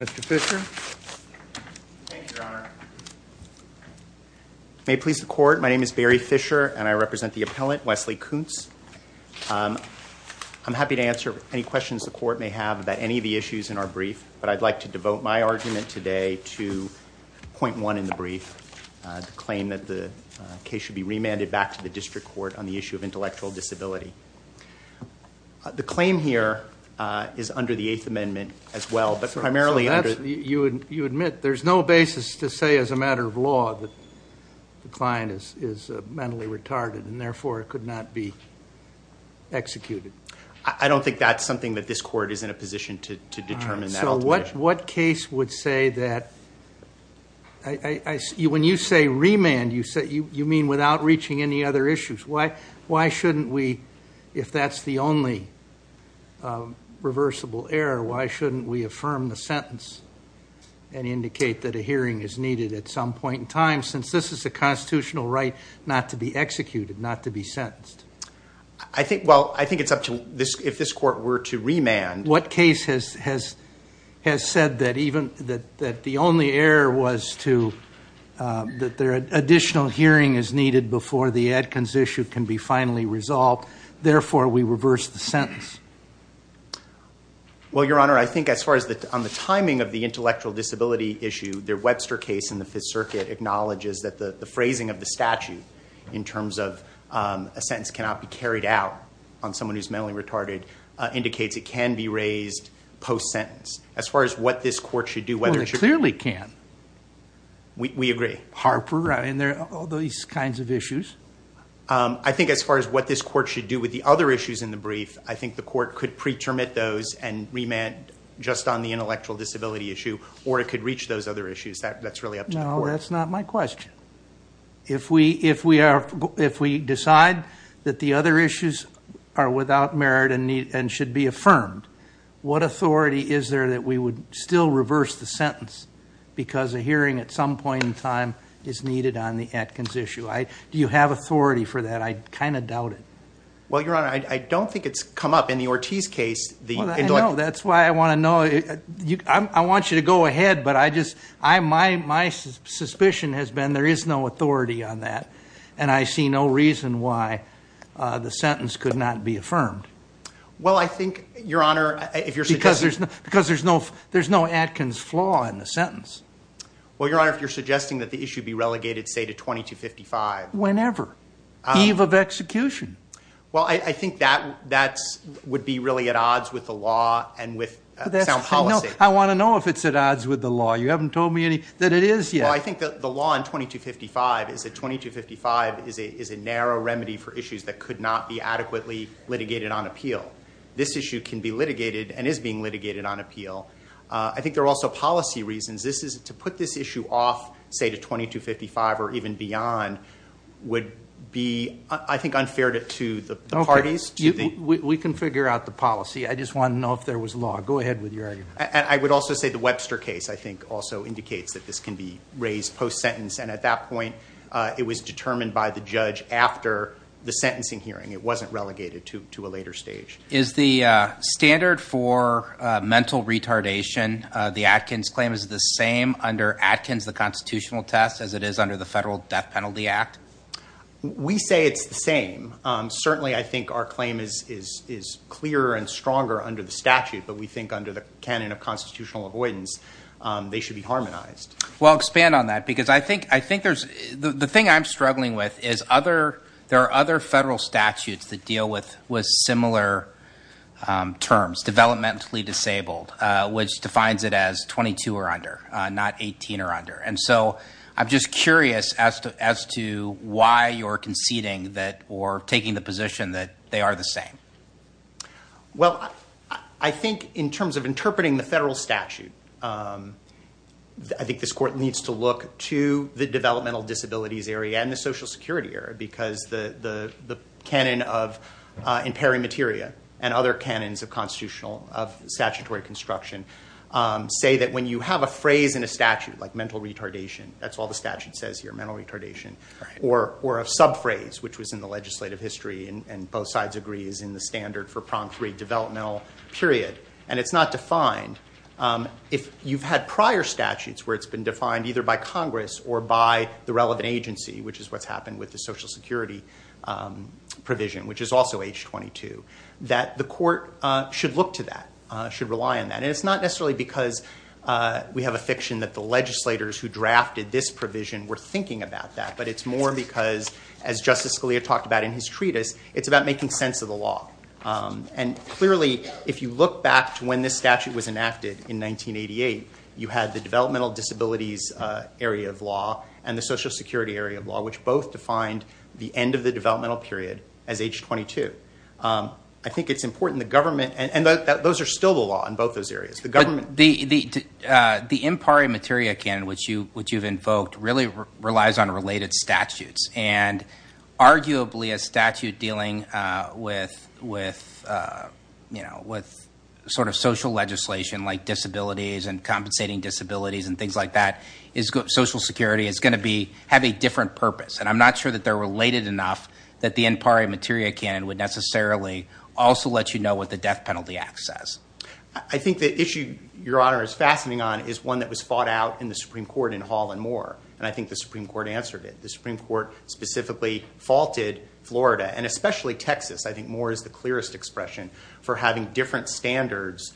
Mr. Fisher. Thank you, Your Honor. May it please the Court, my name is Barry Fisher and I represent the appellant, Wesley Coonce. I'm happy to answer any questions the Court may have about any of the issues in our brief, but I'd like to devote my argument today to point one in the brief, the claim that the case should be remanded back to the District Court on the issue of intellectual disability. The claim here is under the Eighth Amendment as well, but primarily under... You admit there's no basis to say as a matter of law that the client is mentally retarded and therefore could not be executed. I don't think that's something that this Court is in a position to determine. So what case would say that... When you say remand, you mean without reaching any other issues. Why shouldn't we, if that's the only reversible error, why shouldn't we affirm the sentence and indicate that a hearing is needed at some point in time, since this is a constitutional right not to be executed, not to be sentenced? I think it's up to... If this Court were to remand... What case has said that the only error was that an additional hearing is needed before the Adkins issue can be finally resolved, therefore we reverse the sentence? Well, Your Honor, I think as far as the timing of the intellectual disability issue, the Webster case in the Fifth Circuit acknowledges that the phrasing of the statute in terms of a sentence cannot be carried out on someone who's mentally retarded indicates it can be raised post-sentence. As far as what this Court should do... Well, it clearly can. We agree. Harper, and there are all these kinds of issues. I think as far as what this Court should do with the other issues in the brief, I think the Court could pre-termit those and remand just on the intellectual disability issue, or it could reach those other issues. That's really up to the Court. No, that's not my question. If we decide that the other issues are without merit and should be affirmed, what authority is there that we would still reverse the sentence because a hearing at some point in time is needed on the Adkins issue? Do you have authority for that? I kind of doubt it. Well, Your Honor, I don't think it's come up in the Ortiz case. That's why I want to know. I want you to go ahead, but my suspicion has been there is no authority on that, and I see no reason why the sentence could not be affirmed. Well, I think, Your Honor... Because there's no Adkins flaw in the sentence. Well, Your Honor, if you're suggesting that the issue be relegated, say, to 2255... Whenever. Eve of execution. Well, I think that would be really at odds with the law and with sound policy. I want to know if it's at odds with the law. You haven't told me that it is yet. Well, I think the law in 2255 is a narrow remedy for issues that could not be adequately litigated on appeal. This issue can be litigated and is being litigated on appeal. I think there are also policy reasons. To put this issue off, say, to 2255 or even beyond would be, I think, unfair to the parties. We can figure out the policy. I just want to know if there was law. Go ahead with your argument. I would also say the Webster case, I think, also indicates that this can be raised post-sentence, and at that point it was determined by the judge after the sentencing hearing. It wasn't relegated to a later stage. Is the standard for mental retardation, the Atkins claim, is it the same under Atkins, the constitutional test, as it is under the Federal Death Penalty Act? We say it's the same. Certainly I think our claim is clearer and stronger under the statute, but we think under the canon of constitutional avoidance they should be harmonized. Well, expand on that, because I think there's... The thing I'm struggling with is there are other federal statutes that deal with similar terms, developmentally disabled, which defines it as 22 or under, not 18 or under. And so I'm just curious as to why you're conceding or taking the position that they are the same. Well, I think in terms of interpreting the federal statute, I think this court needs to look to the developmental disabilities area and the social security area, because the canon of impairing materia and other canons of statutory construction say that when you have a phrase in a statute, like mental retardation, that's all the statute says here, mental retardation, or a subphrase, which was in the legislative history, and both sides agree is in the standard for prong three, developmental, period, and it's not defined. If you've had prior statutes where it's been defined either by Congress or by the relevant agency, which is what's happened with the social security provision, which is also H-22, that the court should look to that, should rely on that. And it's not necessarily because we have a fiction that the legislators who drafted this provision were thinking about that, but it's more because, as Justice Scalia talked about in his treatise, it's about making sense of the law. And clearly, if you look back to when this statute was enacted in 1988, you had the developmental disabilities area of law and the social security area of law, which both defined the end of the developmental period as H-22. I think it's important the government, and those are still the law in both those areas, the government. The impairing materia canon, which you've invoked, really relies on related statutes, and arguably a statute dealing with sort of social legislation like disabilities and compensating disabilities and things like that, social security is going to have a different purpose. And I'm not sure that they're related enough that the impairing materia canon would necessarily also let you know what the Death Penalty Act says. I think the issue, Your Honor, is fascinating on is one that was fought out in the Supreme Court in Hall and Moore, and I think the Supreme Court answered it. The Supreme Court specifically faulted Florida, and especially Texas. I think Moore is the clearest expression for having different standards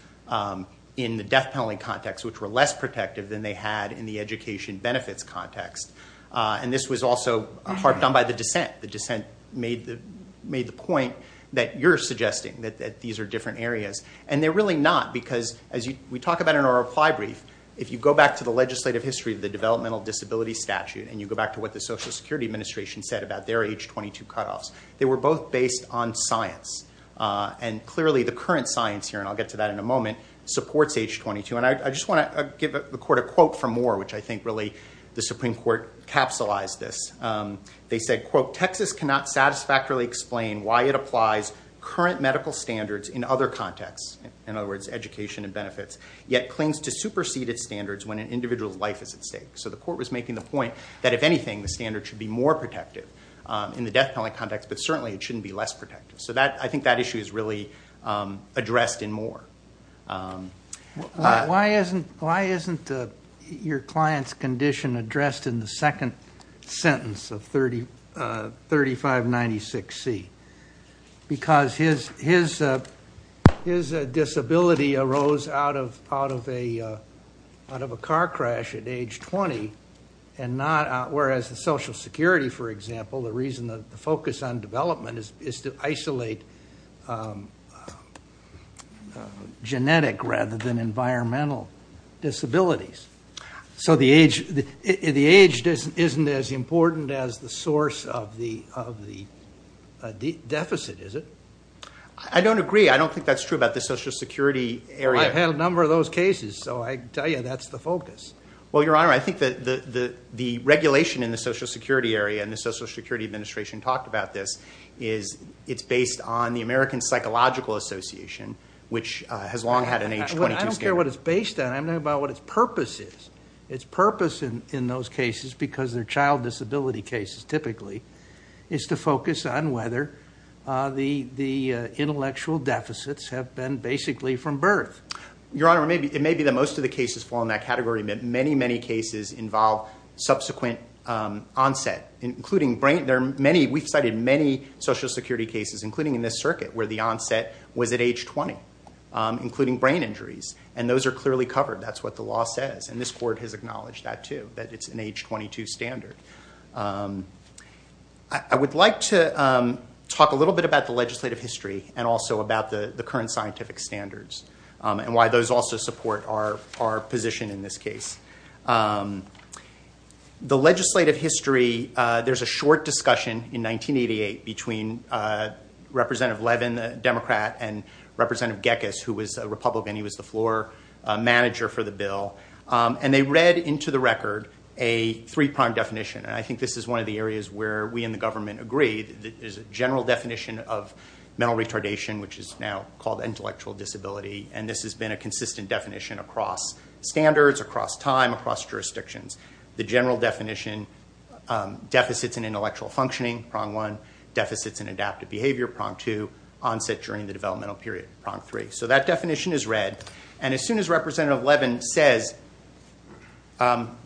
in the death penalty context, which were less protective than they had in the education benefits context. And this was also harped on by the dissent. The dissent made the point that you're suggesting, that these are different areas. And they're really not, because as we talk about in our reply brief, if you go back to the legislative history of the developmental disability statute and you go back to what the Social Security Administration said about their age 22 cutoffs, they were both based on science. And clearly the current science here, and I'll get to that in a moment, supports age 22. And I just want to give the Court a quote from Moore, which I think really the Supreme Court capsulized this. They said, quote, Texas cannot satisfactorily explain why it applies current medical standards in other contexts, in other words, education and benefits, yet clings to superseded standards when an individual's life is at stake. So the Court was making the point that, if anything, the standard should be more protective in the death penalty context, but certainly it shouldn't be less protective. So I think that issue is really addressed in Moore. Why isn't your client's condition addressed in the second sentence of 3596C? Because his disability arose out of a car crash at age 20, whereas the Social Security, for example, the reason the focus on development is to isolate genetic rather than environmental disabilities. So the age isn't as important as the source of the deficit, is it? I don't agree. I don't think that's true about the Social Security area. Well, I've had a number of those cases, so I can tell you that's the focus. Well, Your Honor, I think that the regulation in the Social Security area, and the Social Security Administration talked about this, is it's based on the American Psychological Association, which has long had an age 22 standard. I don't care what it's based on. I'm talking about what its purpose is. Its purpose in those cases, because they're child disability cases typically, is to focus on whether the intellectual deficits have been basically from birth. Your Honor, it may be that most of the cases fall in that category, but many, many cases involve subsequent onset, including brain. We've cited many Social Security cases, including in this circuit, where the onset was at age 20, including brain injuries. And those are clearly covered. That's what the law says, and this Court has acknowledged that too, that it's an age 22 standard. I would like to talk a little bit about the legislative history and also about the current scientific standards and why those also support our position in this case. The legislative history, there's a short discussion in 1988 between Representative Levin, a Democrat, and Representative Gekas, who was a Republican. He was the floor manager for the bill. And they read into the record a three-pronged definition, and I think this is one of the areas where we in the government agree. There's a general definition of mental retardation, which is now called intellectual disability, and this has been a consistent definition across standards, across time, across jurisdictions. The general definition, deficits in intellectual functioning, prong one, deficits in adaptive behavior, prong two, onset during the developmental period, prong three. So that definition is read, and as soon as Representative Levin says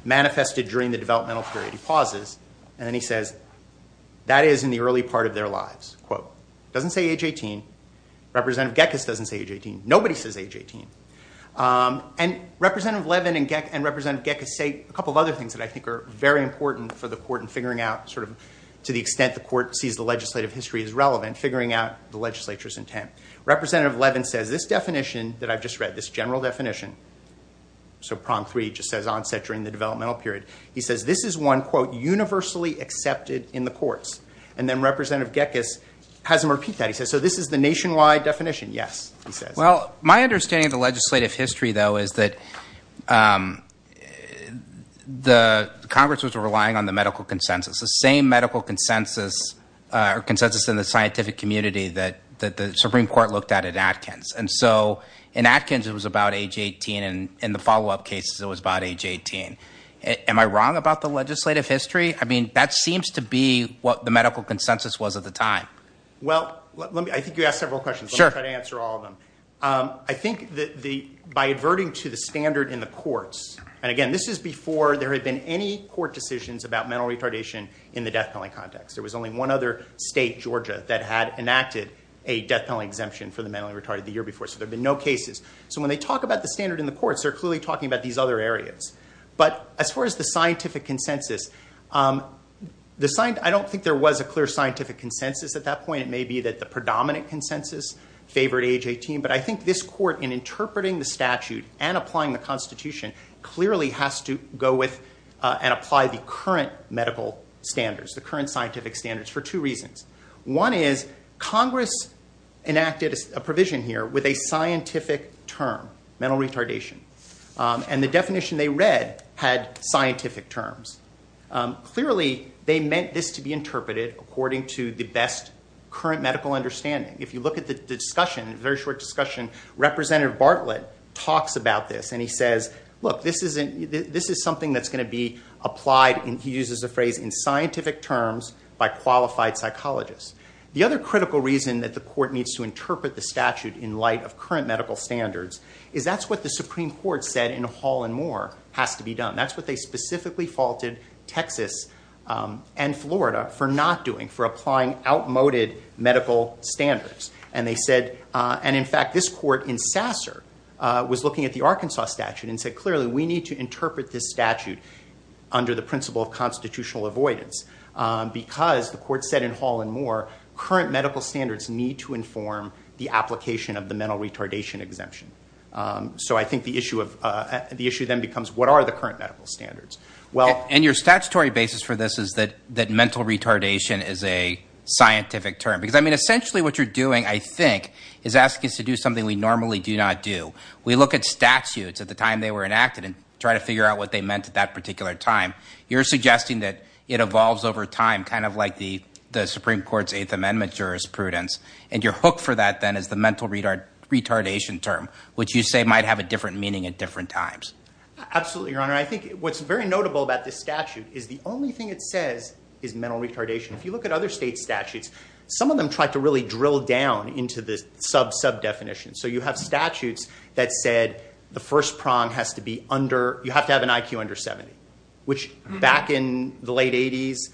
manifested during the developmental period, he pauses, and then he says, that is in the early part of their lives, quote. Doesn't say age 18. Representative Gekas doesn't say age 18. Nobody says age 18. And Representative Levin and Representative Gekas say a couple of other things that I think are very important for the court in figuring out sort of to the extent the court sees the legislative history as relevant, figuring out the legislature's intent. Representative Levin says this definition that I've just read, this general definition, so prong three just says onset during the developmental period. He says this is one, quote, universally accepted in the courts. And then Representative Gekas has him repeat that. He says, so this is the nationwide definition? Yes, he says. Well, my understanding of the legislative history, though, is that the Congress was relying on the medical consensus, the same medical consensus or consensus in the scientific community that the Supreme Court looked at at Atkins. And so in Atkins it was about age 18, and in the follow-up cases it was about age 18. Am I wrong about the legislative history? I mean, that seems to be what the medical consensus was at the time. Well, I think you asked several questions. Sure. I'll try to answer all of them. I think that by adverting to the standard in the courts, and, again, this is before there had been any court decisions about mental retardation in the death penalty context. There was only one other state, Georgia, that had enacted a death penalty exemption for the mentally retarded the year before, so there had been no cases. So when they talk about the standard in the courts, they're clearly talking about these other areas. But as far as the scientific consensus, I don't think there was a clear scientific consensus at that point. It may be that the predominant consensus favored age 18, but I think this court, in interpreting the statute and applying the Constitution, clearly has to go with and apply the current medical standards, the current scientific standards, for two reasons. One is Congress enacted a provision here with a scientific term, mental retardation, and the definition they read had scientific terms. Clearly, they meant this to be interpreted according to the best current medical understanding. If you look at the discussion, a very short discussion, Representative Bartlett talks about this, and he says, look, this is something that's going to be applied, and he uses the phrase, in scientific terms by qualified psychologists. The other critical reason that the court needs to interpret the statute in light of current medical standards is that's what the Supreme Court said in Hall and Moore has to be done. That's what they specifically faulted Texas and Florida for not doing, for applying outmoded medical standards. And they said, and in fact, this court in Sasser was looking at the Arkansas statute and said, clearly, we need to interpret this statute under the principle of constitutional avoidance, because the court said in Hall and Moore, current medical standards need to inform the application of the mental retardation exemption. So I think the issue then becomes, what are the current medical standards? And your statutory basis for this is that mental retardation is a scientific term, because, I mean, essentially what you're doing, I think, is asking us to do something we normally do not do. We look at statutes at the time they were enacted and try to figure out what they meant at that particular time. You're suggesting that it evolves over time, kind of like the Supreme Court's Eighth Amendment jurisprudence, and your hook for that then is the mental retardation term, which you say might have a different meaning at different times. Absolutely, Your Honor. I think what's very notable about this statute is the only thing it says is mental retardation. If you look at other states' statutes, some of them try to really drill down into the sub-sub-definition. So you have statutes that said the first prong has to be under, you have to have an IQ under 70, which back in the late 80s,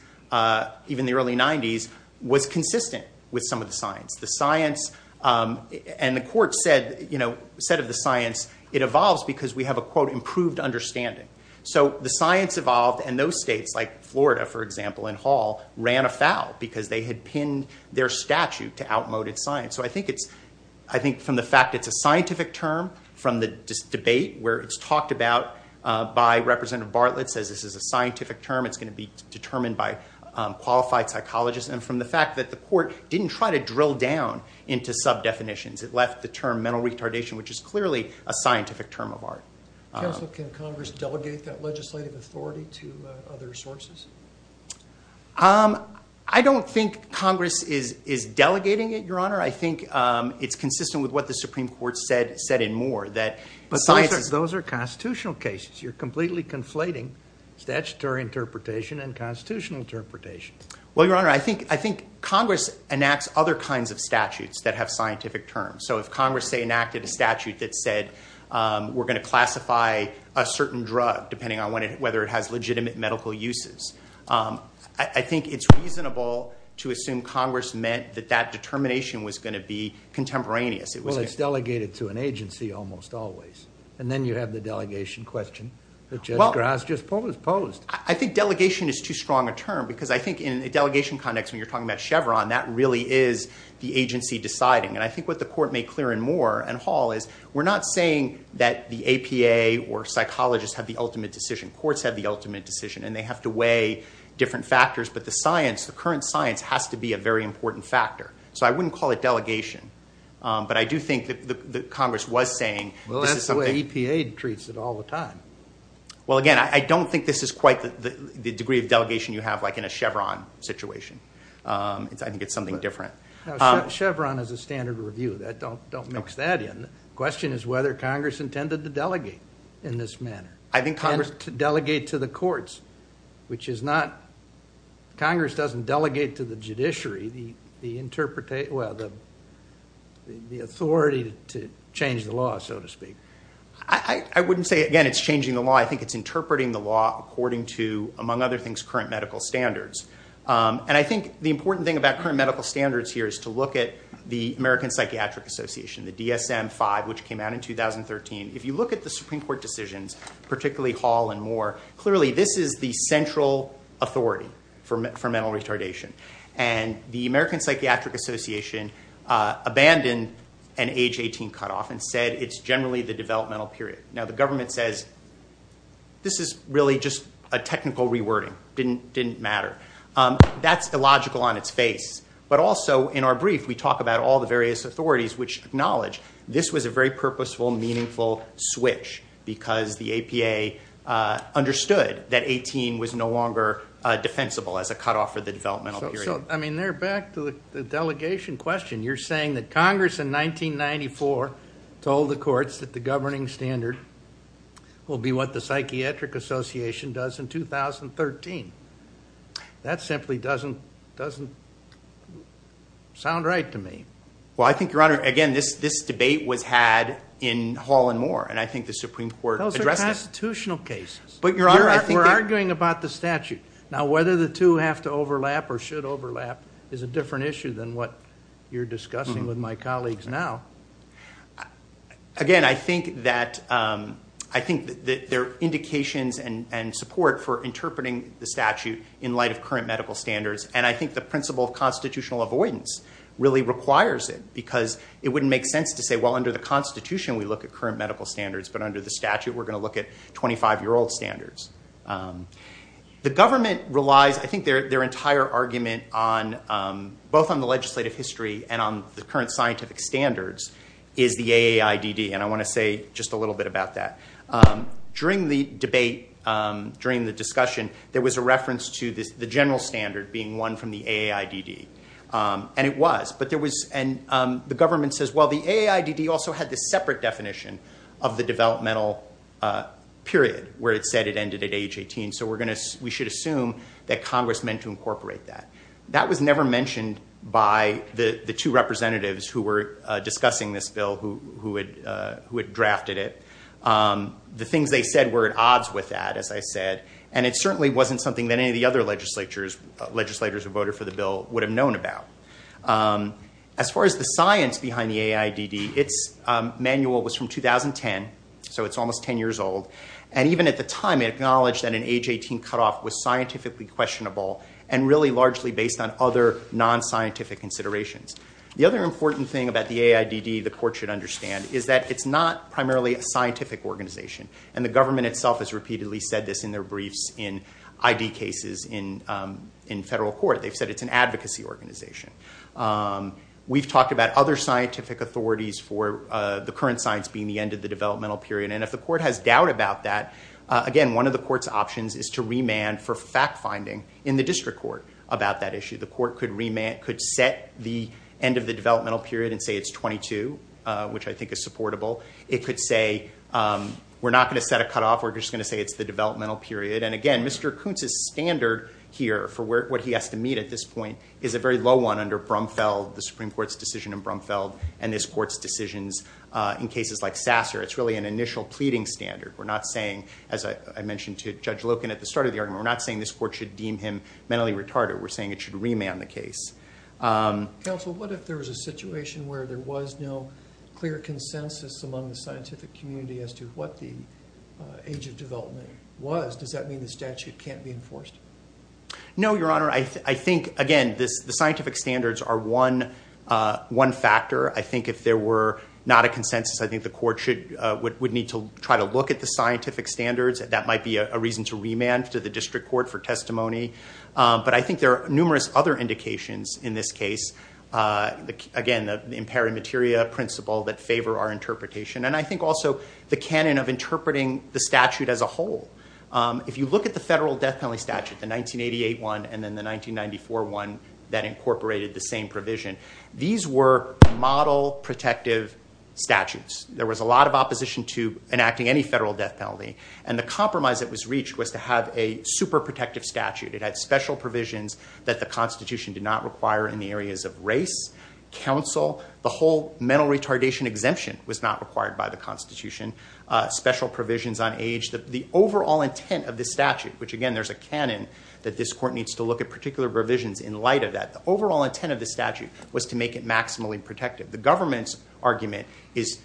even the early 90s, was consistent with some of the science. The science, and the court said of the science, it evolves because we have a, quote, improved understanding. So the science evolved, and those states, like Florida, for example, and Hall, ran afoul, because they had pinned their statute to outmoded science. So I think from the fact it's a scientific term, from the debate where it's talked about by Representative Bartlett, says this is a scientific term, it's going to be determined by qualified psychologists, and from the fact that the court didn't try to drill down into sub-definitions. It left the term mental retardation, which is clearly a scientific term of art. Counsel, can Congress delegate that legislative authority to other sources? I don't think Congress is delegating it, Your Honor. I think it's consistent with what the Supreme Court said in Moore. But those are constitutional cases. You're completely conflating statutory interpretation and constitutional interpretation. Well, Your Honor, I think Congress enacts other kinds of statutes that have scientific terms. So if Congress, say, enacted a statute that said we're going to classify a certain drug, depending on whether it has legitimate medical uses, I think it's reasonable to assume Congress meant that that determination was going to be contemporaneous. Well, it's delegated to an agency almost always. And then you have the delegation question that Judge Grass just posed. I think delegation is too strong a term, because I think in a delegation context, when you're talking about Chevron, that really is the agency deciding. And I think what the Court made clear in Moore and Hall is we're not saying that the APA or psychologists have the ultimate decision. Courts have the ultimate decision, and they have to weigh different factors. But the science, the current science, has to be a very important factor. So I wouldn't call it delegation. But I do think that Congress was saying this is something. Well, that's the way EPA treats it all the time. Well, again, I don't think this is quite the degree of delegation you have, like, in a Chevron situation. I think it's something different. Now, Chevron is a standard review. Don't mix that in. The question is whether Congress intended to delegate in this manner, to delegate to the courts, which is not... Congress doesn't delegate to the judiciary the authority to change the law, so to speak. I wouldn't say, again, it's changing the law. I think it's interpreting the law according to, among other things, current medical standards. And I think the important thing about current medical standards here is to look at the American Psychiatric Association, the DSM-5, which came out in 2013. If you look at the Supreme Court decisions, particularly Hall and Moore, clearly this is the central authority for mental retardation. And the American Psychiatric Association abandoned an age 18 cutoff and said it's generally the developmental period. Now, the government says this is really just a technical rewording. It didn't matter. That's illogical on its face. But also, in our brief, we talk about all the various authorities which acknowledge this was a very purposeful, meaningful switch because the APA understood that 18 was no longer defensible as a cutoff for the developmental period. I mean, they're back to the delegation question. You're saying that Congress in 1994 told the courts that the governing standard will be what the Psychiatric Association does in 2013. That simply doesn't sound right to me. Well, I think, Your Honor, again, this debate was had in Hall and Moore. And I think the Supreme Court addressed that. Those are constitutional cases. We're arguing about the statute. Now, whether the two have to overlap or should overlap is a different issue than what you're discussing with my colleagues now. Again, I think that there are indications and support for interpreting the statute in light of current medical standards. And I think the principle of constitutional avoidance really requires it because it wouldn't make sense to say, well, under the Constitution, we look at current medical standards. But under the statute, we're going to look at 25-year-old standards. The government relies, I think, their entire argument both on the legislative history and on the current scientific standards is the AAIDD. And I want to say just a little bit about that. During the debate, during the discussion, there was a reference to the general standard being one from the AAIDD. And it was. And the government says, well, the AAIDD also had this separate definition of the developmental period where it said it ended at age 18. So we should assume that Congress meant to incorporate that. That was never mentioned by the two representatives who were discussing this bill who had drafted it. The things they said were at odds with that, as I said. And it certainly wasn't something that any of the other legislators who voted for the bill would have known about. As far as the science behind the AAIDD, its manual was from 2010. So it's almost 10 years old. And even at the time, it acknowledged that an age 18 cutoff was scientifically questionable and really largely based on other non-scientific considerations. The other important thing about the AAIDD the court should understand is that it's not primarily a scientific organization. And the government itself has repeatedly said this in their briefs in ID cases in federal court. They've said it's an advocacy organization. We've talked about other scientific authorities for the current science being the end of the developmental period. And if the court has doubt about that, again, one of the court's options is to remand for fact finding in the district court about that issue. The court could remand, could set the end of the developmental period and say it's 22, which I think is supportable. It could say we're not going to set a cutoff. We're just going to say it's the developmental period. And again, Mr. Koontz's standard here for what he has to meet at this point is a very low one under Brumfeld, the Supreme Court's decision in Brumfeld and this court's decisions in cases like Sasser. It's really an initial pleading standard. We're not saying, as I mentioned to Judge Loken at the start of the argument, we're not saying this court should deem him mentally retarded. We're saying it should remand the case. Counsel, what if there was a situation where there was no clear consensus among the scientific community as to what the age of development was? Does that mean the statute can't be enforced? No, Your Honor. I think, again, the scientific standards are one factor. I think if there were not a consensus, I think the court would need to try to look at the scientific standards. That might be a reason to remand to the district court for testimony. But I think there are numerous other indications in this case, again, the imperative materia principle that favor our interpretation. And I think also the canon of interpreting the statute as a whole. If you look at the federal death penalty statute, the 1988 one and then the 1994 one that incorporated the same provision, these were model protective statutes. There was a lot of opposition to enacting any federal death penalty. And the compromise that was reached was to have a super protective statute. It had special provisions that the Constitution did not require in the areas of race, counsel. The whole mental retardation exemption was not required by the Constitution. Special provisions on age. The overall intent of the statute, which, again, there's a canon that this court needs to look at particular provisions in light of that. The overall intent of the statute was to make it maximally protective. The government's argument is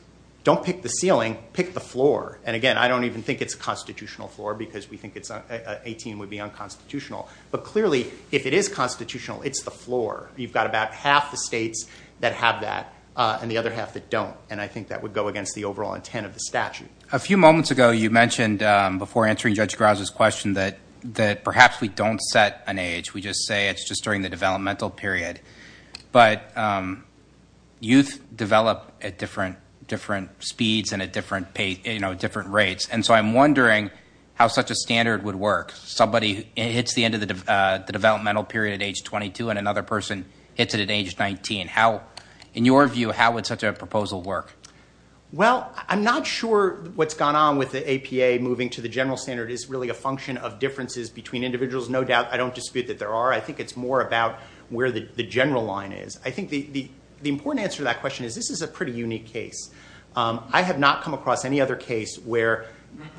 don't pick the ceiling, pick the floor. And, again, I don't even think it's a constitutional floor because we think 18 would be unconstitutional. But, clearly, if it is constitutional, it's the floor. You've got about half the states that have that and the other half that don't. And I think that would go against the overall intent of the statute. A few moments ago you mentioned, before answering Judge Graza's question, that perhaps we don't set an age. We just say it's just during the developmental period. But youth develop at different speeds and at different rates. And so I'm wondering how such a standard would work. Somebody hits the end of the developmental period at age 22 and another person hits it at age 19. In your view, how would such a proposal work? Well, I'm not sure what's gone on with the APA moving to the general standard. It's really a function of differences between individuals, no doubt. I don't dispute that there are. I think it's more about where the general line is. I think the important answer to that question is this is a pretty unique case. I have not come across any other case where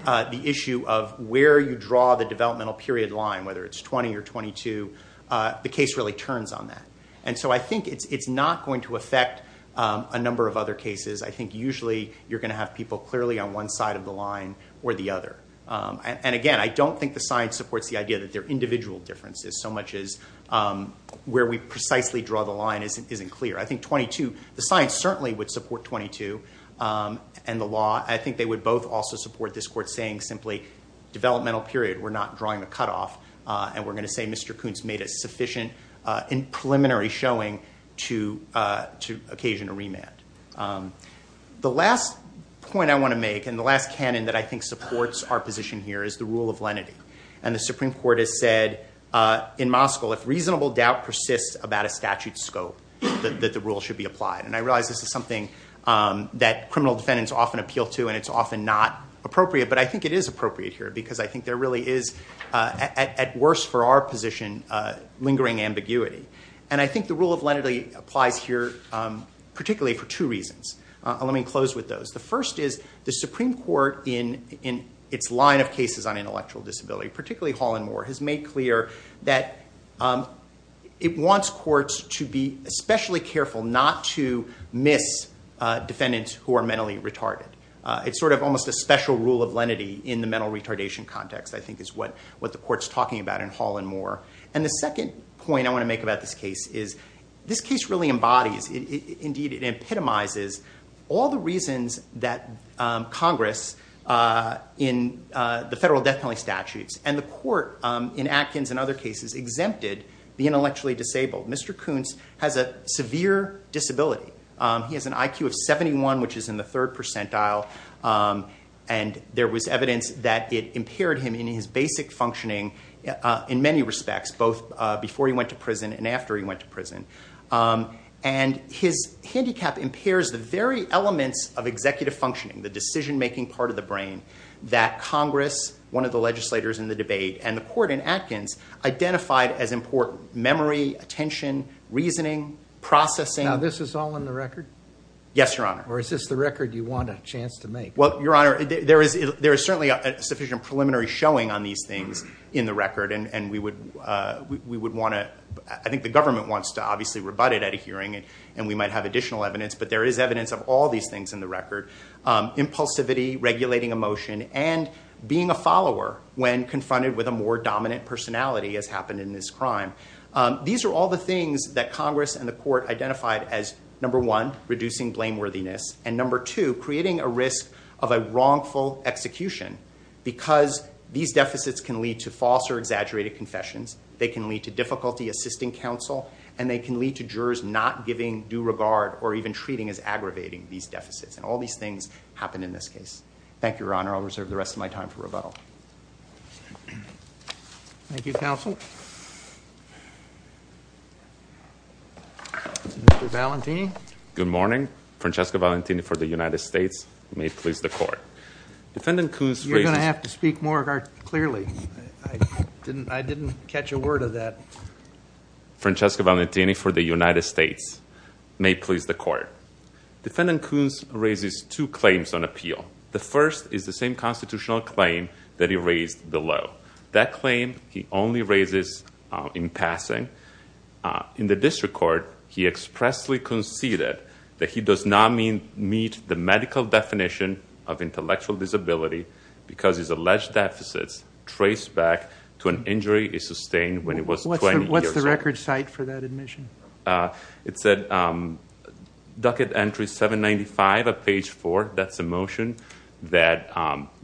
the issue of where you draw the developmental period line, whether it's 20 or 22, the case really turns on that. And so I think it's not going to affect a number of other cases. I think usually you're going to have people clearly on one side of the line or the other. And again, I don't think the science supports the idea that there are individual differences so much as where we precisely draw the line isn't clear. I think 22, the science certainly would support 22 and the law. I think they would both also support this court saying simply developmental period, we're not drawing a cutoff. And we're going to say Mr. Kuntz made a sufficient preliminary showing to occasion a remand. The last point I want to make and the last canon that I think supports our position here is the rule of lenity. And the Supreme Court has said in Moscow, if reasonable doubt persists about a statute's scope, that the rule should be applied. And I realize this is something that criminal defendants often appeal to and it's often not appropriate. But I think it is appropriate here because I think there really is, at worst for our position, lingering ambiguity. And I think the rule of lenity applies here particularly for two reasons. Let me close with those. The first is the Supreme Court in its line of cases on intellectual disability, particularly Hall and Moore, has made clear that it wants courts to be especially careful not to miss defendants who are mentally retarded. It's sort of almost a special rule of lenity in the mental retardation context I think is what the court's talking about in Hall and Moore. And the second point I want to make about this case is this case really embodies, indeed it epitomizes, all the reasons that Congress in the federal death penalty statutes and the court in Atkins and other cases exempted the intellectually disabled. Mr. Kuntz has a severe disability. He has an IQ of 71, which is in the third percentile. And there was evidence that it impaired him in his basic functioning in many respects, both before he went to prison and after he went to prison. And his handicap impairs the very elements of executive functioning, the decision-making part of the brain, that Congress, one of the legislators in the debate, and the court in Atkins identified as important. Memory, attention, reasoning, processing. Now, this is all in the record? Yes, Your Honor. Or is this the record you want a chance to make? Well, Your Honor, there is certainly a sufficient preliminary showing on these things in the record, and we would want to, I think the government wants to obviously rebut it at a hearing, and we might have additional evidence, but there is evidence of all these things in the record. Impulsivity, regulating emotion, and being a follower when confronted with a more dominant personality has happened in this crime. These are all the things that Congress and the court identified as, number one, reducing blameworthiness, and number two, creating a risk of a wrongful execution, because these deficits can lead to false or exaggerated confessions, they can lead to difficulty assisting counsel, and they can lead to jurors not giving due regard or even treating as aggravating these deficits. And all these things happen in this case. Thank you, Your Honor. I'll reserve the rest of my time for rebuttal. Thank you, counsel. Mr. Valentini. Good morning. Francesca Valentini for the United States. May it please the court. You're going to have to speak more clearly. I didn't catch a word of that. Francesca Valentini for the United States. May it please the court. Defendant Coons raises two claims on appeal. The first is the same constitutional claim that he raised below. That claim he only raises in passing. In the district court, he expressly conceded that he does not meet the medical definition of intellectual disability because his alleged deficits trace back to an injury he sustained when he was 20 years old. What's the record cite for that admission? It's at docket entry 795 of page 4. That's a motion that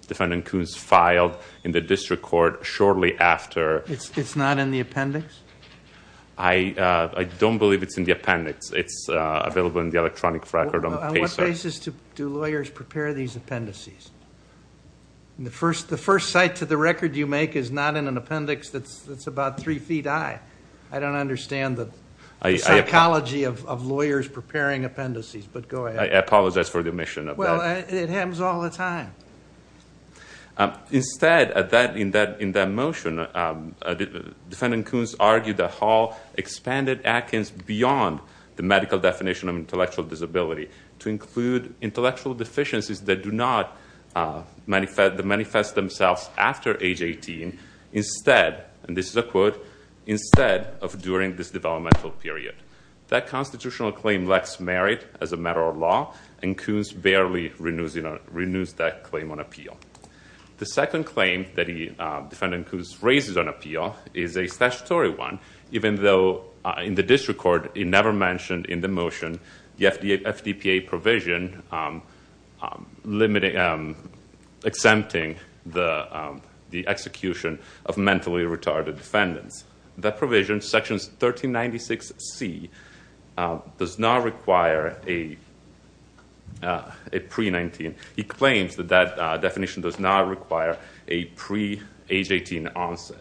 Defendant Coons filed in the district court shortly after... It's not in the appendix? I don't believe it's in the appendix. It's available in the electronic record on paper. On what basis do lawyers prepare these appendices? The first cite to the record you make is not in an appendix that's about three feet high. I don't understand the psychology of lawyers preparing appendices, but go ahead. I apologize for the omission of that. Well, it happens all the time. Instead, in that motion, Defendant Coons argued that Hall expanded Atkins beyond the medical definition of intellectual disability to include intellectual deficiencies that do not manifest themselves after age 18. Instead, and this is a quote, instead of during this developmental period. That constitutional claim lacks merit as a matter of law, and Coons barely renews that claim on appeal. The second claim that Defendant Coons raises on appeal is a statutory one, of mentally retarded defendants. That provision, sections 1396C, does not require a pre-19... He claims that that definition does not require a pre-age 18 onset.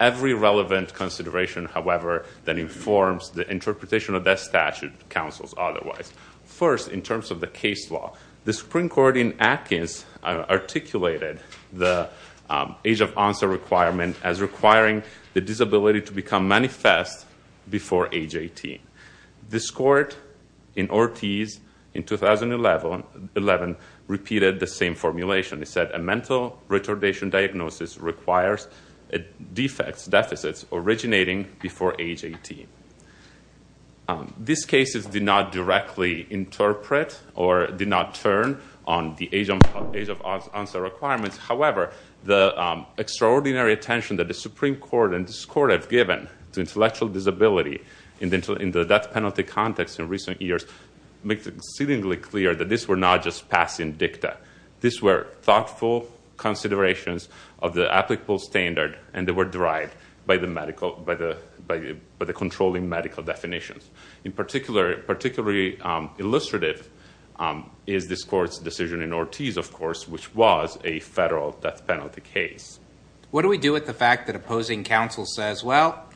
Every relevant consideration, however, that informs the interpretation of that statute counsels otherwise. First, in terms of the case law, the Supreme Court in Atkins articulated the age of onset requirement as requiring the disability to become manifest before age 18. This court in Ortiz, in 2011, repeated the same formulation. It said a mental retardation diagnosis requires defects, deficits, originating before age 18. These cases did not directly interpret or did not turn on the age of onset requirements. However, the extraordinary attention that the Supreme Court and this court have given to intellectual disability in the death penalty context in recent years makes it exceedingly clear that this were not just passing dicta. These were thoughtful considerations of the applicable standard, and they were derived by the controlling medical definitions. Particularly illustrative is this court's decision in Ortiz, of course, which was a federal death penalty case. What do we do with the fact that opposing counsel says, well,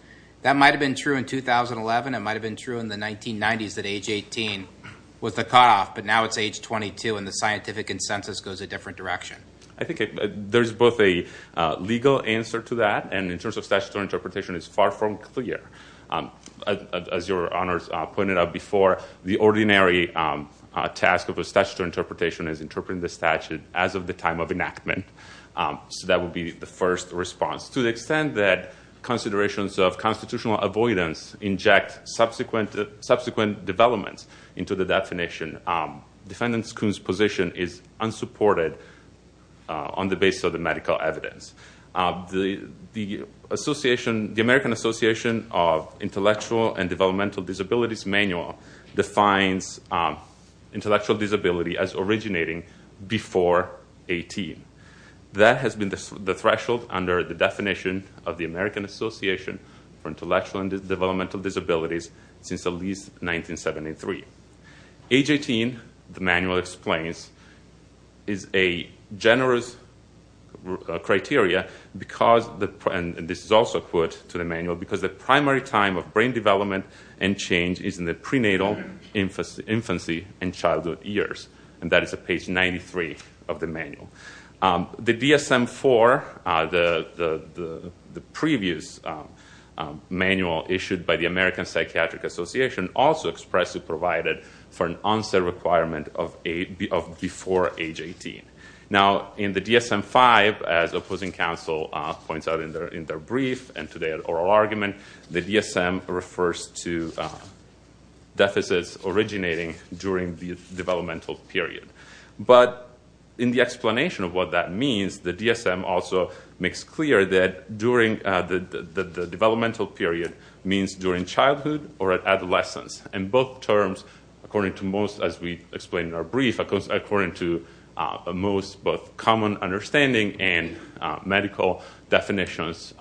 that might have been true in 2011, it might have been true in the 1990s that age 18 was the cutoff, but now it's age 22 and the scientific consensus goes a different direction? I think there's both a legal answer to that, and in terms of statutory interpretation, it's far from clear. As your honors pointed out before, the ordinary task of a statutory interpretation is interpreting the statute as of the time of enactment. So that would be the first response. To the extent that considerations of constitutional avoidance inject subsequent developments into the definition, Defendant Kuhn's position is unsupported on the basis of the medical evidence. The American Association of Intellectual and Developmental Disabilities Manual defines intellectual disability as originating before 18. That has been the threshold under the definition of the American Association for Intellectual and Developmental Disabilities since at least 1973. Age 18, the manual explains, is a generous criteria, and this is also a quote to the manual, because the primary time of brain development and change is in the prenatal, infancy, and childhood years. And that is at page 93 of the manual. The DSM-IV, the previous manual issued by the American Psychiatric Association, also expressly provided for an onset requirement of before age 18. Now, in the DSM-V, as opposing counsel points out in their brief and today at oral argument, the DSM refers to deficits originating during the developmental period. But in the explanation of what that means, the DSM also makes clear that the developmental period means during childhood or adolescence. In both terms, according to most, as we explain in our brief, according to a most common understanding and medical definitions,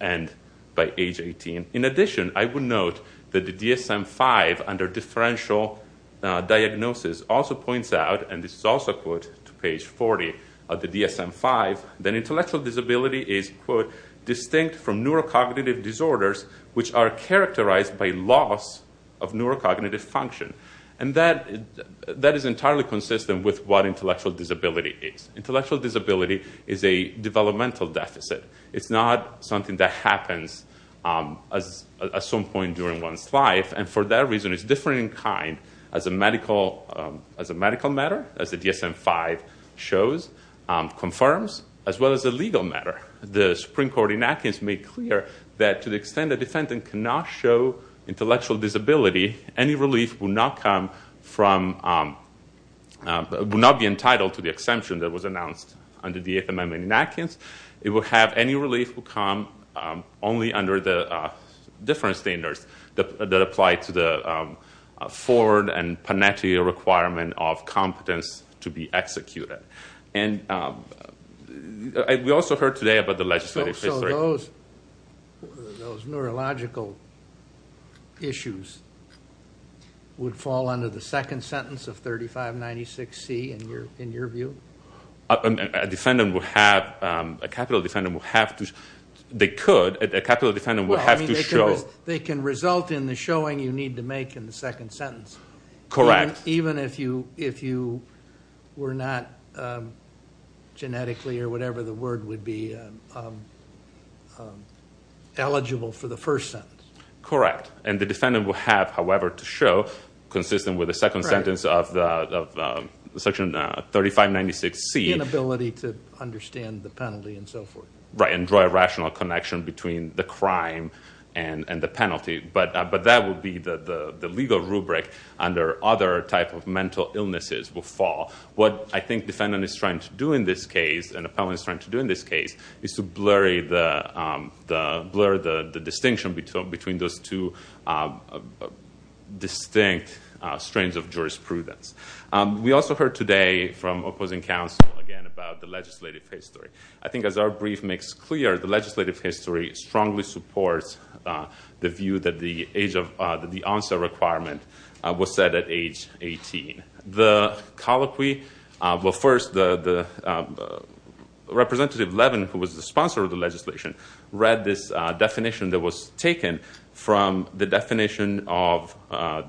end by age 18. In addition, I would note that the DSM-V, under differential diagnosis, also points out, and this is also a quote to page 40 of the DSM-V, that intellectual disability is, quote, distinct from neurocognitive disorders, which are characterized by loss of neurocognitive function. And that is entirely consistent with what intellectual disability is. Intellectual disability is a developmental deficit. It's not something that happens at some point during one's life. And for that reason, it's different in kind as a medical matter, as the DSM-V shows, confirms, as well as a legal matter. The Supreme Court enactments make clear that to the extent a defendant cannot show intellectual disability, any relief will not be entitled to the exemption that was announced under the Eighth Amendment in Atkins. It will have any relief that will come only under the different standards that apply to the Ford and Panetti requirement of competence to be executed. And we also heard today about the legislative history. Those neurological issues would fall under the second sentence of 3596C, in your view? A defendant would have, a capital defendant would have to, they could, a capital defendant would have to show. They can result in the showing you need to make in the second sentence. Correct. Even if you were not genetically or whatever the word would be eligible for the first sentence. Correct. And the defendant would have, however, to show consistent with the second sentence of section 3596C. Inability to understand the penalty and so forth. Right, and draw a rational connection between the crime and the penalty. But that would be the legal rubric under other type of mental illnesses will fall. What I think defendant is trying to do in this case, and appellant is trying to do in this case, is to blur the distinction between those two distinct strains of jurisprudence. We also heard today from opposing counsel again about the legislative history. I think as our brief makes clear, the legislative history strongly supports the view that the onset requirement was set at age 18. The colloquy, well first, Representative Levin, who was the sponsor of the legislation, read this definition that was taken from the definition of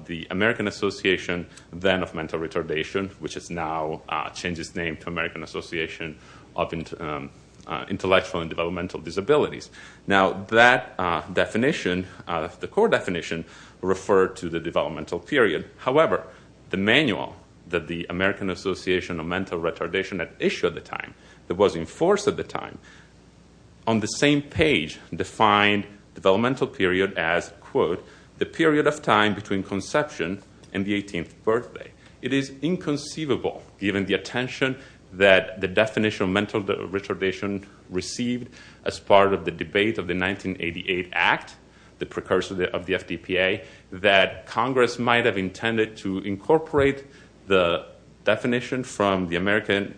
the American Association then of Mental Retardation, which has now changed its name to American Association of Intellectual and Developmental Disabilities. Now that definition, the core definition, referred to the developmental period. However, the manual that the American Association of Mental Retardation had issued at the time, that was in force at the time, on the same page defined developmental period as, quote, the period of time between conception and the 18th birthday. It is inconceivable, given the attention that the definition of mental retardation received as part of the debate of the 1988 Act, the precursor of the FDPA, that Congress might have intended to incorporate the definition from the American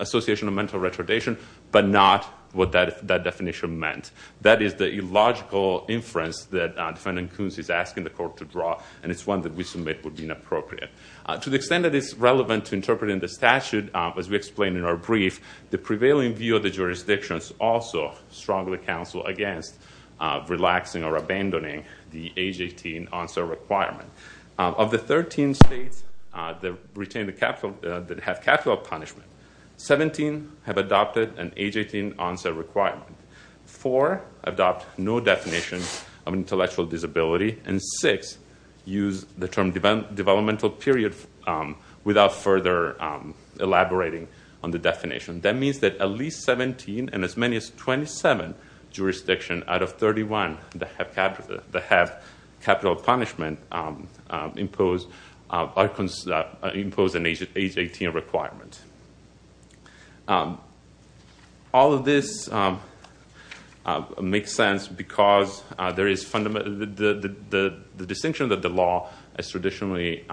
Association of Mental Retardation, but not what that definition meant. That is the illogical inference that Defendant Coons is asking the court to draw, and it's one that we submit would be inappropriate. To the extent that it's relevant to interpreting the statute, as we explained in our brief, the prevailing view of the jurisdictions also strongly counsel against relaxing or abandoning the age 18 onset requirement. Of the 13 states that have capital punishment, 17 have adopted an age 18 onset requirement. Four adopt no definition of intellectual disability, and six use the term developmental period without further elaborating on the definition. That means that at least 17 and as many as 27 jurisdictions out of 31 that have capital punishment impose an age 18 requirement. All of this makes sense because the distinction that the law has traditionally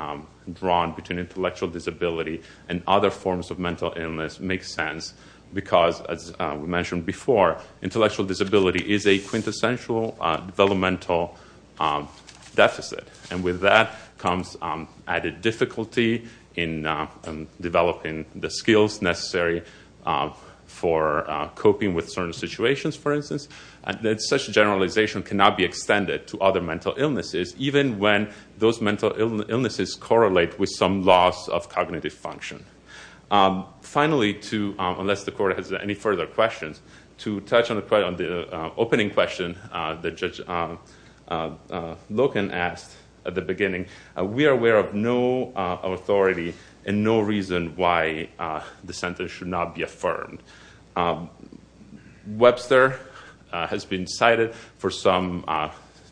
drawn between intellectual disability and other forms of mental illness makes sense because, as we mentioned before, intellectual disability is a quintessential developmental deficit. And with that comes added difficulty in developing the skills necessary for coping with certain situations, for instance. Such generalization cannot be extended to other mental illnesses, even when those mental illnesses correlate with some loss of cognitive function. Finally, unless the court has any further questions, to touch on the opening question that Judge Loken asked at the beginning, we are aware of no authority and no reason why the sentence should not be affirmed. Webster has been cited for some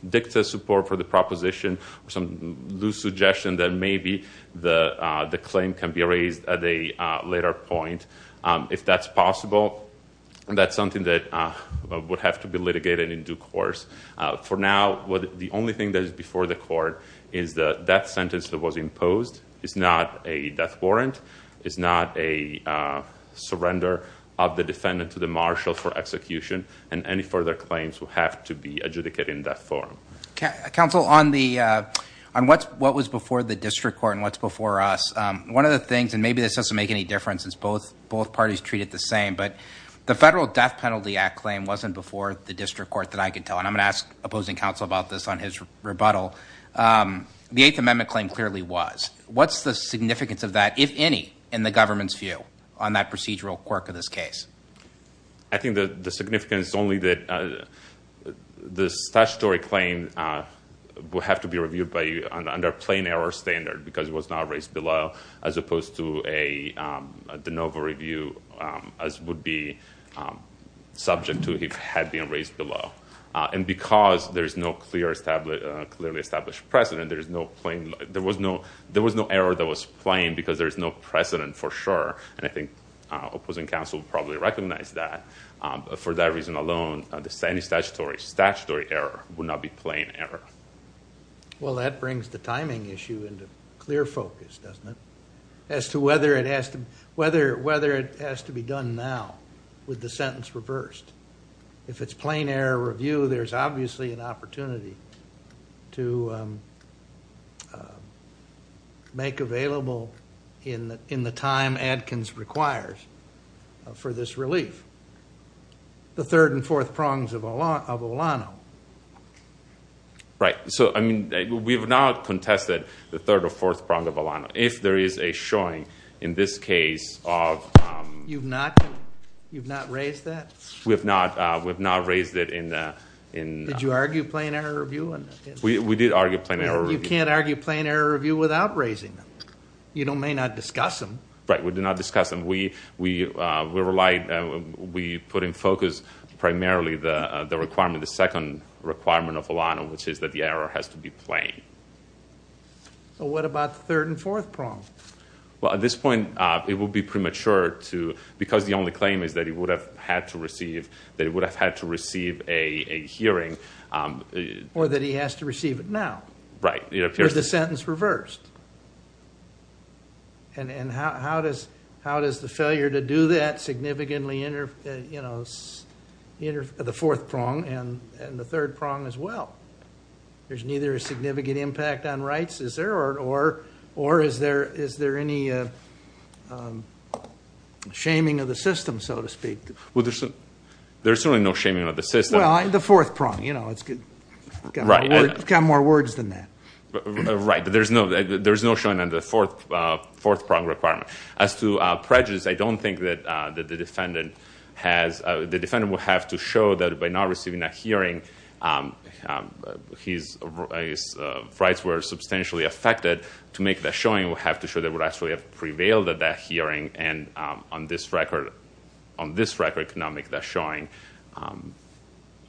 dicta support for the proposition, some loose suggestion that maybe the claim can be raised at a later point. If that's possible, that's something that would have to be litigated in due course. For now, the only thing that is before the court is that that sentence that was imposed is not a death warrant, is not a surrender of the defendant to the marshal for execution, and any further claims would have to be adjudicated in that form. Counsel, on what was before the district court and what's before us, one of the things, and maybe this doesn't make any difference since both parties treat it the same, but the Federal Death Penalty Act claim wasn't before the district court that I can tell, and I'm going to ask opposing counsel about this on his rebuttal. The Eighth Amendment claim clearly was. What's the significance of that, if any, in the government's view on that procedural quirk of this case? I think the significance is only that the statutory claim would have to be reviewed under a plain error standard because it was not raised below as opposed to a de novo review as would be subject to if it had been raised below. Because there's no clearly established precedent, there was no error that was plain because there's no precedent for sure, and I think opposing counsel probably recognized that. For that reason alone, any statutory error would not be plain error. Well, that brings the timing issue into clear focus, doesn't it, as to whether it has to be done now with the sentence reversed. If it's plain error review, there's obviously an opportunity to make available in the time Adkins requires for this relief. The third and fourth prongs of Olano. Right. We have not contested the third or fourth prong of Olano. If there is a showing in this case of... You've not raised that? We have not raised it in... Did you argue plain error review? We did argue plain error review. You can't argue plain error review without raising them. You may not discuss them. Right. We did not discuss them. We relied... We put in focus primarily the requirement, the second requirement of Olano, which is that the error has to be plain. What about the third and fourth prong? At this point, it would be premature to... Because the only claim is that he would have had to receive a hearing. Or that he has to receive it now. Right. With the sentence reversed. And how does the failure to do that significantly interfere the fourth prong and the third prong as well? There's neither a significant impact on rights, is there? Or is there any shaming of the system, so to speak? Well, there's certainly no shaming of the system. Well, the fourth prong. It's got more words than that. Right. There's no shaming of the fourth prong requirement. As to prejudice, I don't think that the defendant has... The defendant would have to show that by not receiving that hearing, his rights were substantially affected. To make that showing, we'll have to show they would actually have prevailed at that hearing. And on this record, could not make that showing.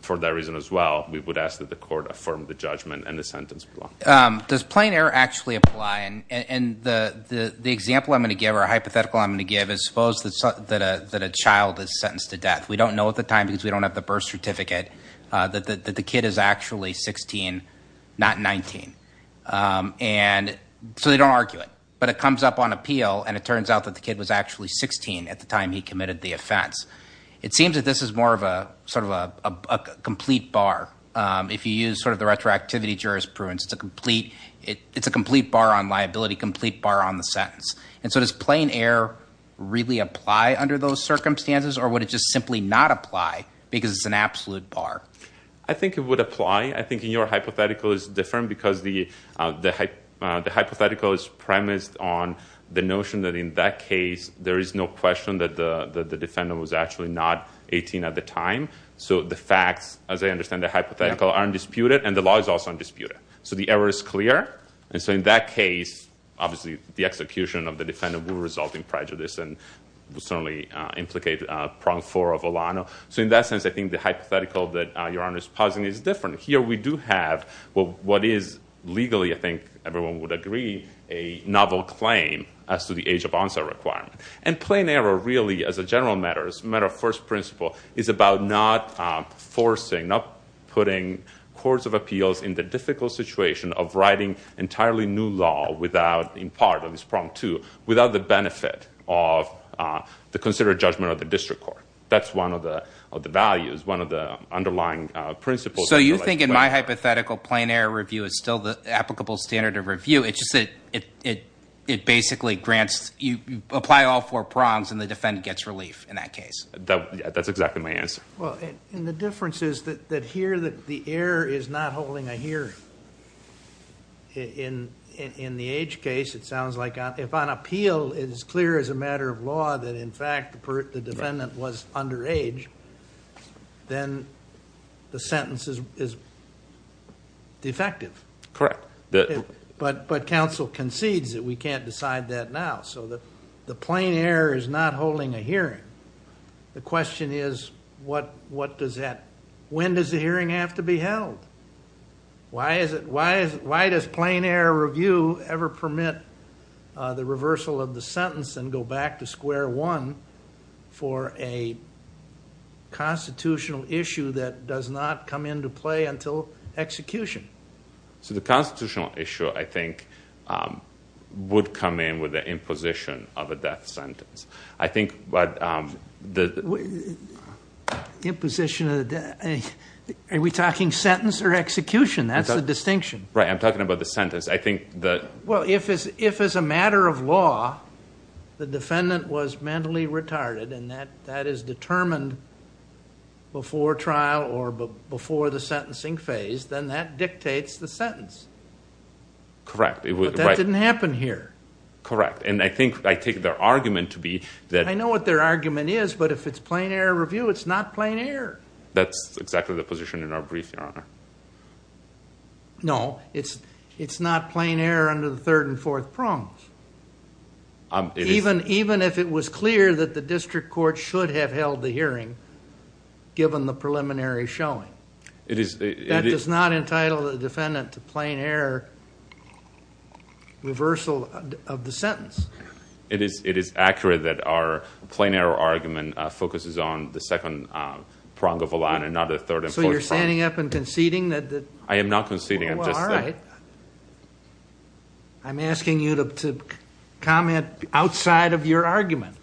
For that reason as well, we would ask that the court affirm the judgment and the sentence. Does plain error actually apply? And the example I'm going to give, or hypothetical I'm going to give, is suppose that a child is sentenced to death. We don't know at the time because we don't have the birth certificate that the kid is actually 16, not 19. And so they don't argue it. But it comes up on appeal, and it turns out that the kid was actually 16 at the time he committed the offense. It seems that this is more of a complete bar. If you use the retroactivity jurisprudence, it's a complete bar on liability, complete bar on the sentence. And so does plain error really apply under those circumstances, or would it just simply not apply because it's an absolute bar? I think it would apply. I think your hypothetical is different because the hypothetical is premised on the notion that in that case, there is no question that the defendant was actually not 18 at the time. So the facts, as I understand the hypothetical, are undisputed, and the law is also undisputed. So the error is clear. And so in that case, obviously the execution of the defendant will result in prejudice and will certainly implicate prong four of Olano. So in that sense, I think the hypothetical that Your Honor is posing is different. Here we do have what is legally, I think everyone would agree, a novel claim as to the age of onset requirement. And plain error really, as a general matter, as a matter of first principle, is about not forcing, not putting courts of appeals in the difficult situation of writing entirely new law without, in part, at least prong two, without the benefit of the considered judgment of the district court. That's one of the values, one of the underlying principles. So you think in my hypothetical, plain error review is still the applicable standard of review. It's just that it basically grants, you apply all four prongs and the defendant gets relief in that case. That's exactly my answer. Well, and the difference is that here the error is not holding a here. In the age case, it sounds like if on appeal it is clear as a matter of law that in fact the defendant was underage, then the sentence is defective. Correct. But counsel concedes that we can't decide that now. So the plain error is not holding a hearing. The question is what does that, when does the hearing have to be held? Why does plain error review ever permit the reversal of the sentence and go back to square one for a constitutional issue that does not come into play until execution? So the constitutional issue, I think, would come in with the imposition of a death sentence. Imposition of a death, are we talking sentence or execution? That's the distinction. Right, I'm talking about the sentence. Well, if as a matter of law the defendant was mentally retarded and that is determined before trial or before the sentencing phase, then that dictates the sentence. Correct. But that didn't happen here. Correct. And I think I take their argument to be that... I know what their argument is, but if it's plain error review, it's not plain error. That's exactly the position in our brief, Your Honor. No, it's not plain error under the third and fourth prongs. Even if it was clear that the district court should have held the hearing given the preliminary showing. That does not entitle the defendant to plain error reversal of the sentence. It is accurate that our plain error argument focuses on the second prong of a line and not the third and fourth prong. So you're standing up and conceding that... I am not conceding. All right. I'm asking you to comment outside of your argument.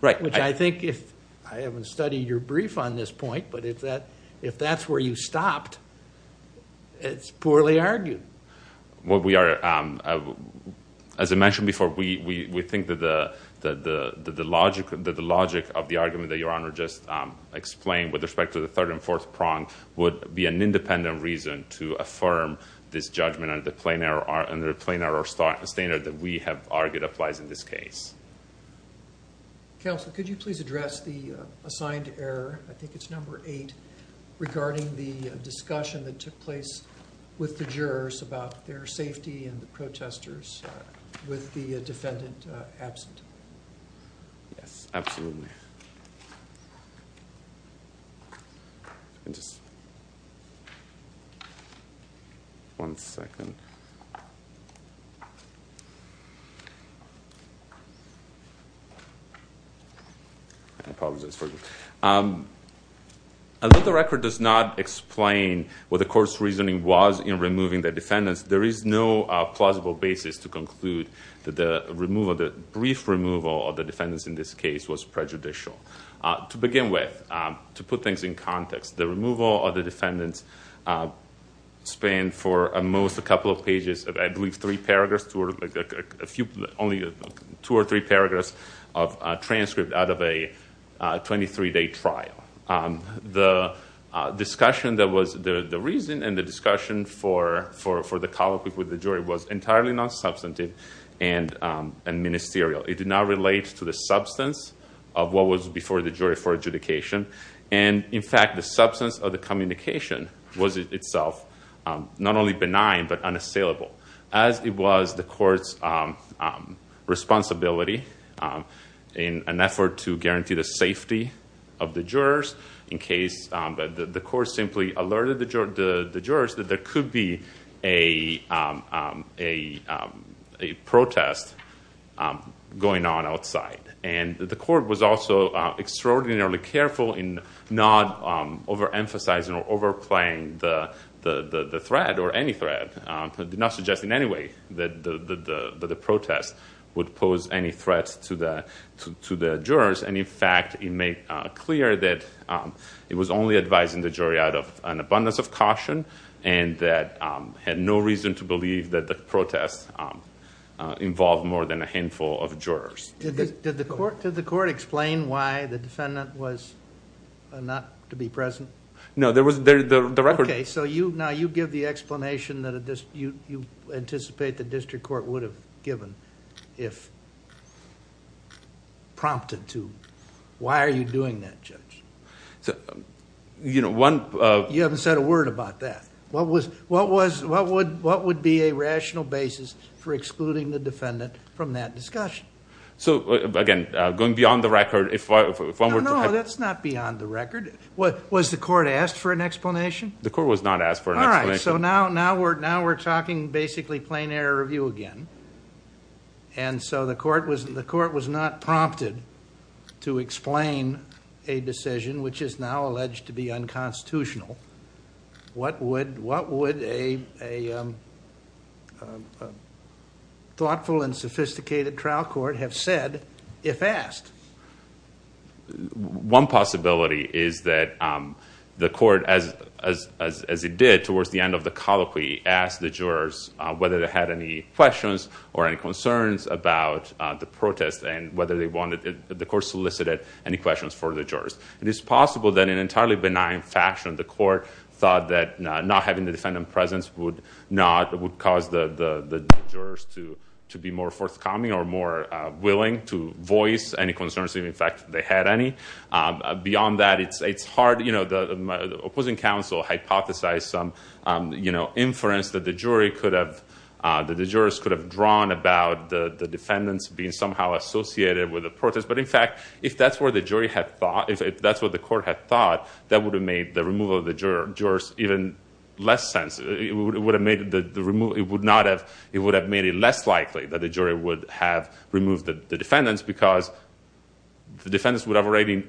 Right. I haven't studied your brief on this point, but if that's where you stopped, it's poorly argued. As I mentioned before, we think that the logic of the argument that Your Honor just explained with respect to the third and fourth prong would be an independent reason to affirm this judgment under the plain error standard that we have argued applies in this case. Counsel, could you please address the assigned error, I think it's number eight, regarding the discussion that took place with the jurors about their safety and the protesters with the defendant absent? Yes, absolutely. One second. I apologize for that. Although the record does not explain what the court's reasoning was in removing the defendants, there is no plausible basis to conclude that the brief removal of the defendants in this case was prejudicial. To begin with, to put things in context, the removal of the defendants spanned for at most a couple of pages, I believe three paragraphs, only two or three paragraphs of transcript out of a 23-day trial. The reason and the discussion for the colloquy with the jury was entirely non-substantive and ministerial. It did not relate to the substance of what was before the jury for adjudication. In fact, the substance of the communication was itself not only benign but unassailable, as it was the court's responsibility in an effort to guarantee the safety of the jurors in case the court simply alerted the jurors that there could be a protest going on outside. The court was also extraordinarily careful in not overemphasizing or overplaying the threat or any threat. It did not suggest in any way that the protest would pose any threat to the jurors. In fact, it made clear that it was only advising the jury out of an abundance of caution and had no reason to believe that the protest involved more than a handful of jurors. Did the court explain why the defendant was not to be present? No, there was... Okay, so now you give the explanation that you anticipate the district court would have given if prompted to. Why are you doing that, Judge? One... You haven't said a word about that. What would be a rational basis for excluding the defendant from that discussion? Again, going beyond the record, if one were to... No, no, that's not beyond the record. Was the court asked for an explanation? The court was not asked for an explanation. All right, so now we're talking basically plain error review again. The court was not prompted to explain a decision which is now alleged to be unconstitutional. What would a thoughtful and sophisticated trial court have said if asked? One possibility is that the court, as it did towards the end of the colloquy, asked the jurors whether they had any questions or any concerns about the protest and whether the court solicited any questions for the jurors. It is possible that, in an entirely benign fashion, the court thought that not having the defendant's presence would cause the jurors to be more forthcoming or more willing to voice any concerns, even if, in fact, they had any. Beyond that, it's hard. The opposing counsel hypothesized some inference that the jurors could have drawn about the defendants being somehow associated with the protest. But, in fact, if that's what the court had thought, that would have made the removal of the jurors even less sensitive. It would have made it less likely that the jury would have removed the defendants because the defendants would have already,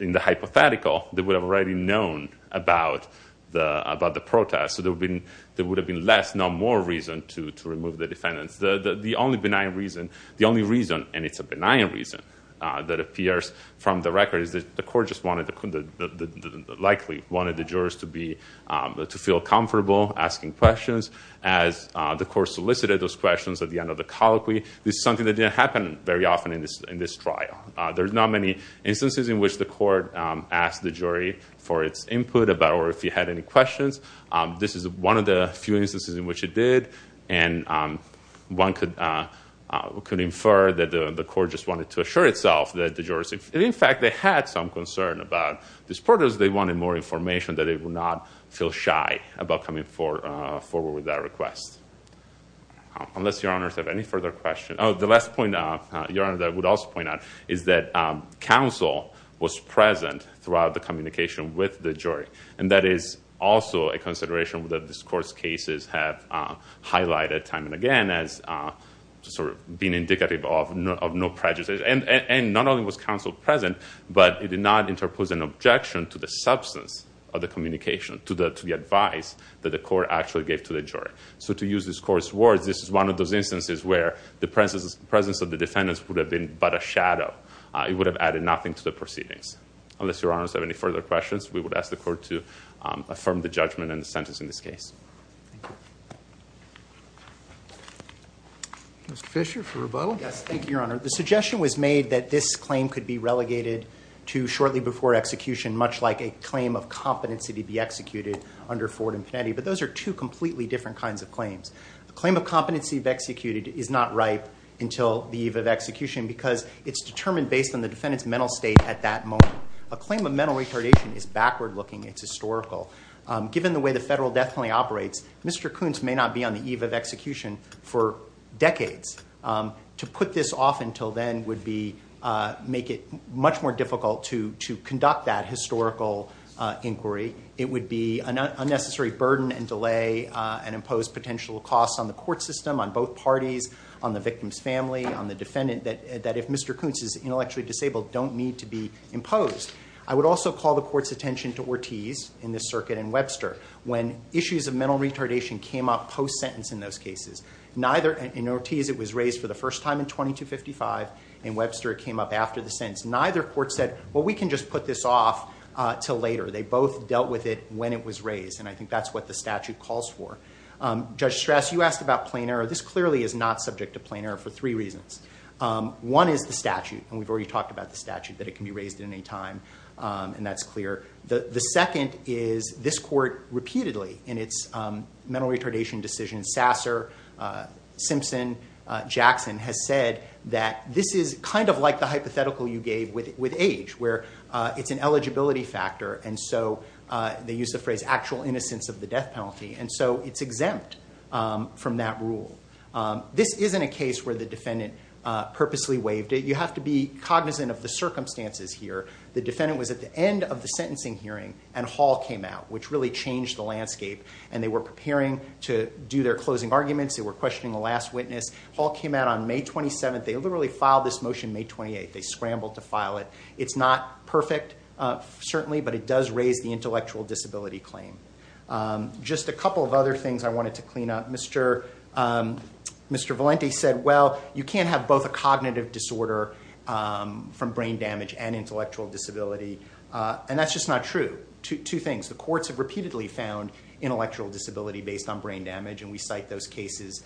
in the hypothetical, known about the protest. So there would have been less, not more, reason to remove the defendants. The only reason, and it's a benign reason that appears from the record, is that the court likely wanted the jurors to feel comfortable asking questions. As the court solicited those questions at the end of the colloquy, this is something that didn't happen very often in this trial. There's not many instances in which the court asked the jury for its input or if it had any questions. This is one of the few instances in which it did. And one could infer that the court just wanted to assure itself that the jurors, if in fact they had some concern about this protest, they wanted more information that they would not feel shy about coming forward with that request. Unless your honors have any further questions. Oh, the last point, your honor, that I would also point out, is that counsel was present throughout the communication with the jury. And that is also a consideration that this court's cases have highlighted time and again as sort of being indicative of no prejudice. And not only was counsel present, but it did not interpose an objection to the substance of the communication, to the advice that the court actually gave to the jury. So to use this court's words, this is one of those instances where the presence of the defendants would have been but a shadow. It would have added nothing to the proceedings. Unless your honors have any further questions, we would ask the court to affirm the judgment and the sentence in this case. Mr. Fisher for rebuttal. Yes, thank you, your honor. The suggestion was made that this claim could be relegated to shortly before execution, much like a claim of competency to be executed under Ford and Panetti. But those are two completely different kinds of claims. The claim of competency of executed is not ripe until the eve of execution because it's determined based on the defendant's mental state at that moment. A claim of mental retardation is backward looking. It's historical. Given the way the federal death penalty operates, Mr. Kuntz may not be on the eve of execution for decades. To put this off until then would make it much more difficult to conduct that historical inquiry. It would be an unnecessary burden and delay and impose potential costs on the court system, on both parties, on the victim's family, on the defendant, that if Mr. Kuntz is intellectually disabled, don't need to be imposed. I would also call the court's attention to Ortiz in this circuit and Webster when issues of mental retardation came up post-sentence in those cases. In Ortiz, it was raised for the first time in 2255. In Webster, it came up after the sentence. Neither court said, well, we can just put this off until later. They both dealt with it when it was raised. And I think that's what the statute calls for. Judge Strass, you asked about plain error. This clearly is not subject to plain error for three reasons. One is the statute. And we've already talked about the statute, that it can be raised at any time. And that's clear. The second is this court repeatedly in its mental retardation decision, Sasser, Simpson, Jackson, has said that this is kind of like the hypothetical you gave with age, where it's an eligibility factor. And so they use the phrase actual innocence of the death penalty. And so it's exempt from that rule. This isn't a case where the defendant purposely waived it. You have to be cognizant of the circumstances here. The defendant was at the end of the sentencing hearing, and Hall came out, which really changed the landscape. And they were preparing to do their closing arguments. They were questioning the last witness. Hall came out on May 27th. They literally filed this motion May 28th. They scrambled to file it. It's not perfect, certainly, but it does raise the intellectual disability claim. Just a couple of other things I wanted to clean up. Mr. Valente said, well, you can't have both a cognitive disorder from brain damage and intellectual disability. And that's just not true. Two things. The courts have repeatedly found intellectual disability based on brain damage. And we cite those cases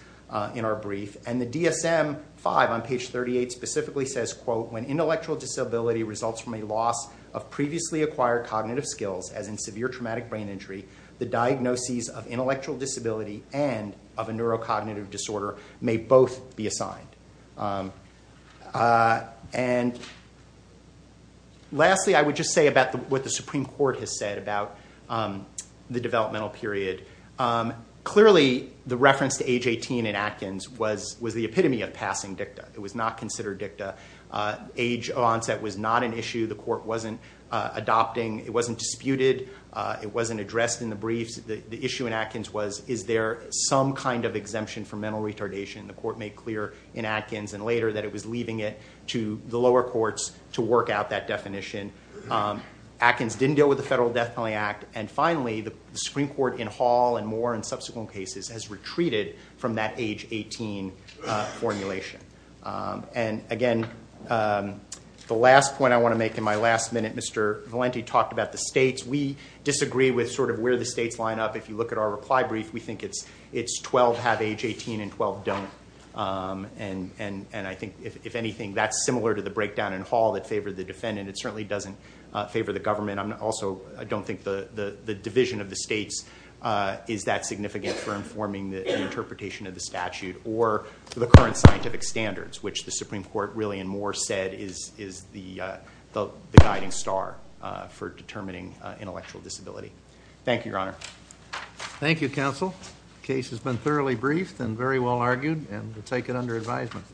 in our brief. And the DSM-5 on page 38 specifically says, quote, when intellectual disability results from a loss of previously acquired cognitive skills, as in severe traumatic brain injury, the diagnoses of intellectual disability and of a neurocognitive disorder may both be assigned. And lastly, I would just say about what the Supreme Court has said about the developmental period. Clearly, the reference to age 18 in Atkins was the epitome of passing dicta. It was not considered dicta. Age onset was not an issue. The court wasn't adopting. It wasn't disputed. It wasn't addressed in the briefs. The issue in Atkins was, is there some kind of exemption for mental retardation? The court made clear in Atkins and later that it was leaving it to the lower courts to work out that definition. Atkins didn't deal with the Federal Death Penalty Act. And finally, the Supreme Court in Hall and more in subsequent cases has retreated from that age 18 formulation. And again, the last point I want to make in my last minute, Mr. Valenti talked about the states. We disagree with sort of where the states line up. If you look at our reply brief, we think it's 12 have age 18 and 12 don't. And I think, if anything, that's similar to the breakdown in Hall that favored the defendant. It certainly doesn't favor the government. Also, I don't think the division of the states is that significant for informing the interpretation of the statute or the current scientific standards, which the Supreme Court really in more said is the guiding star for determining intellectual disability. Thank you, Your Honor. Thank you, counsel. The case has been thoroughly briefed and very well argued, and we'll take it under advisement.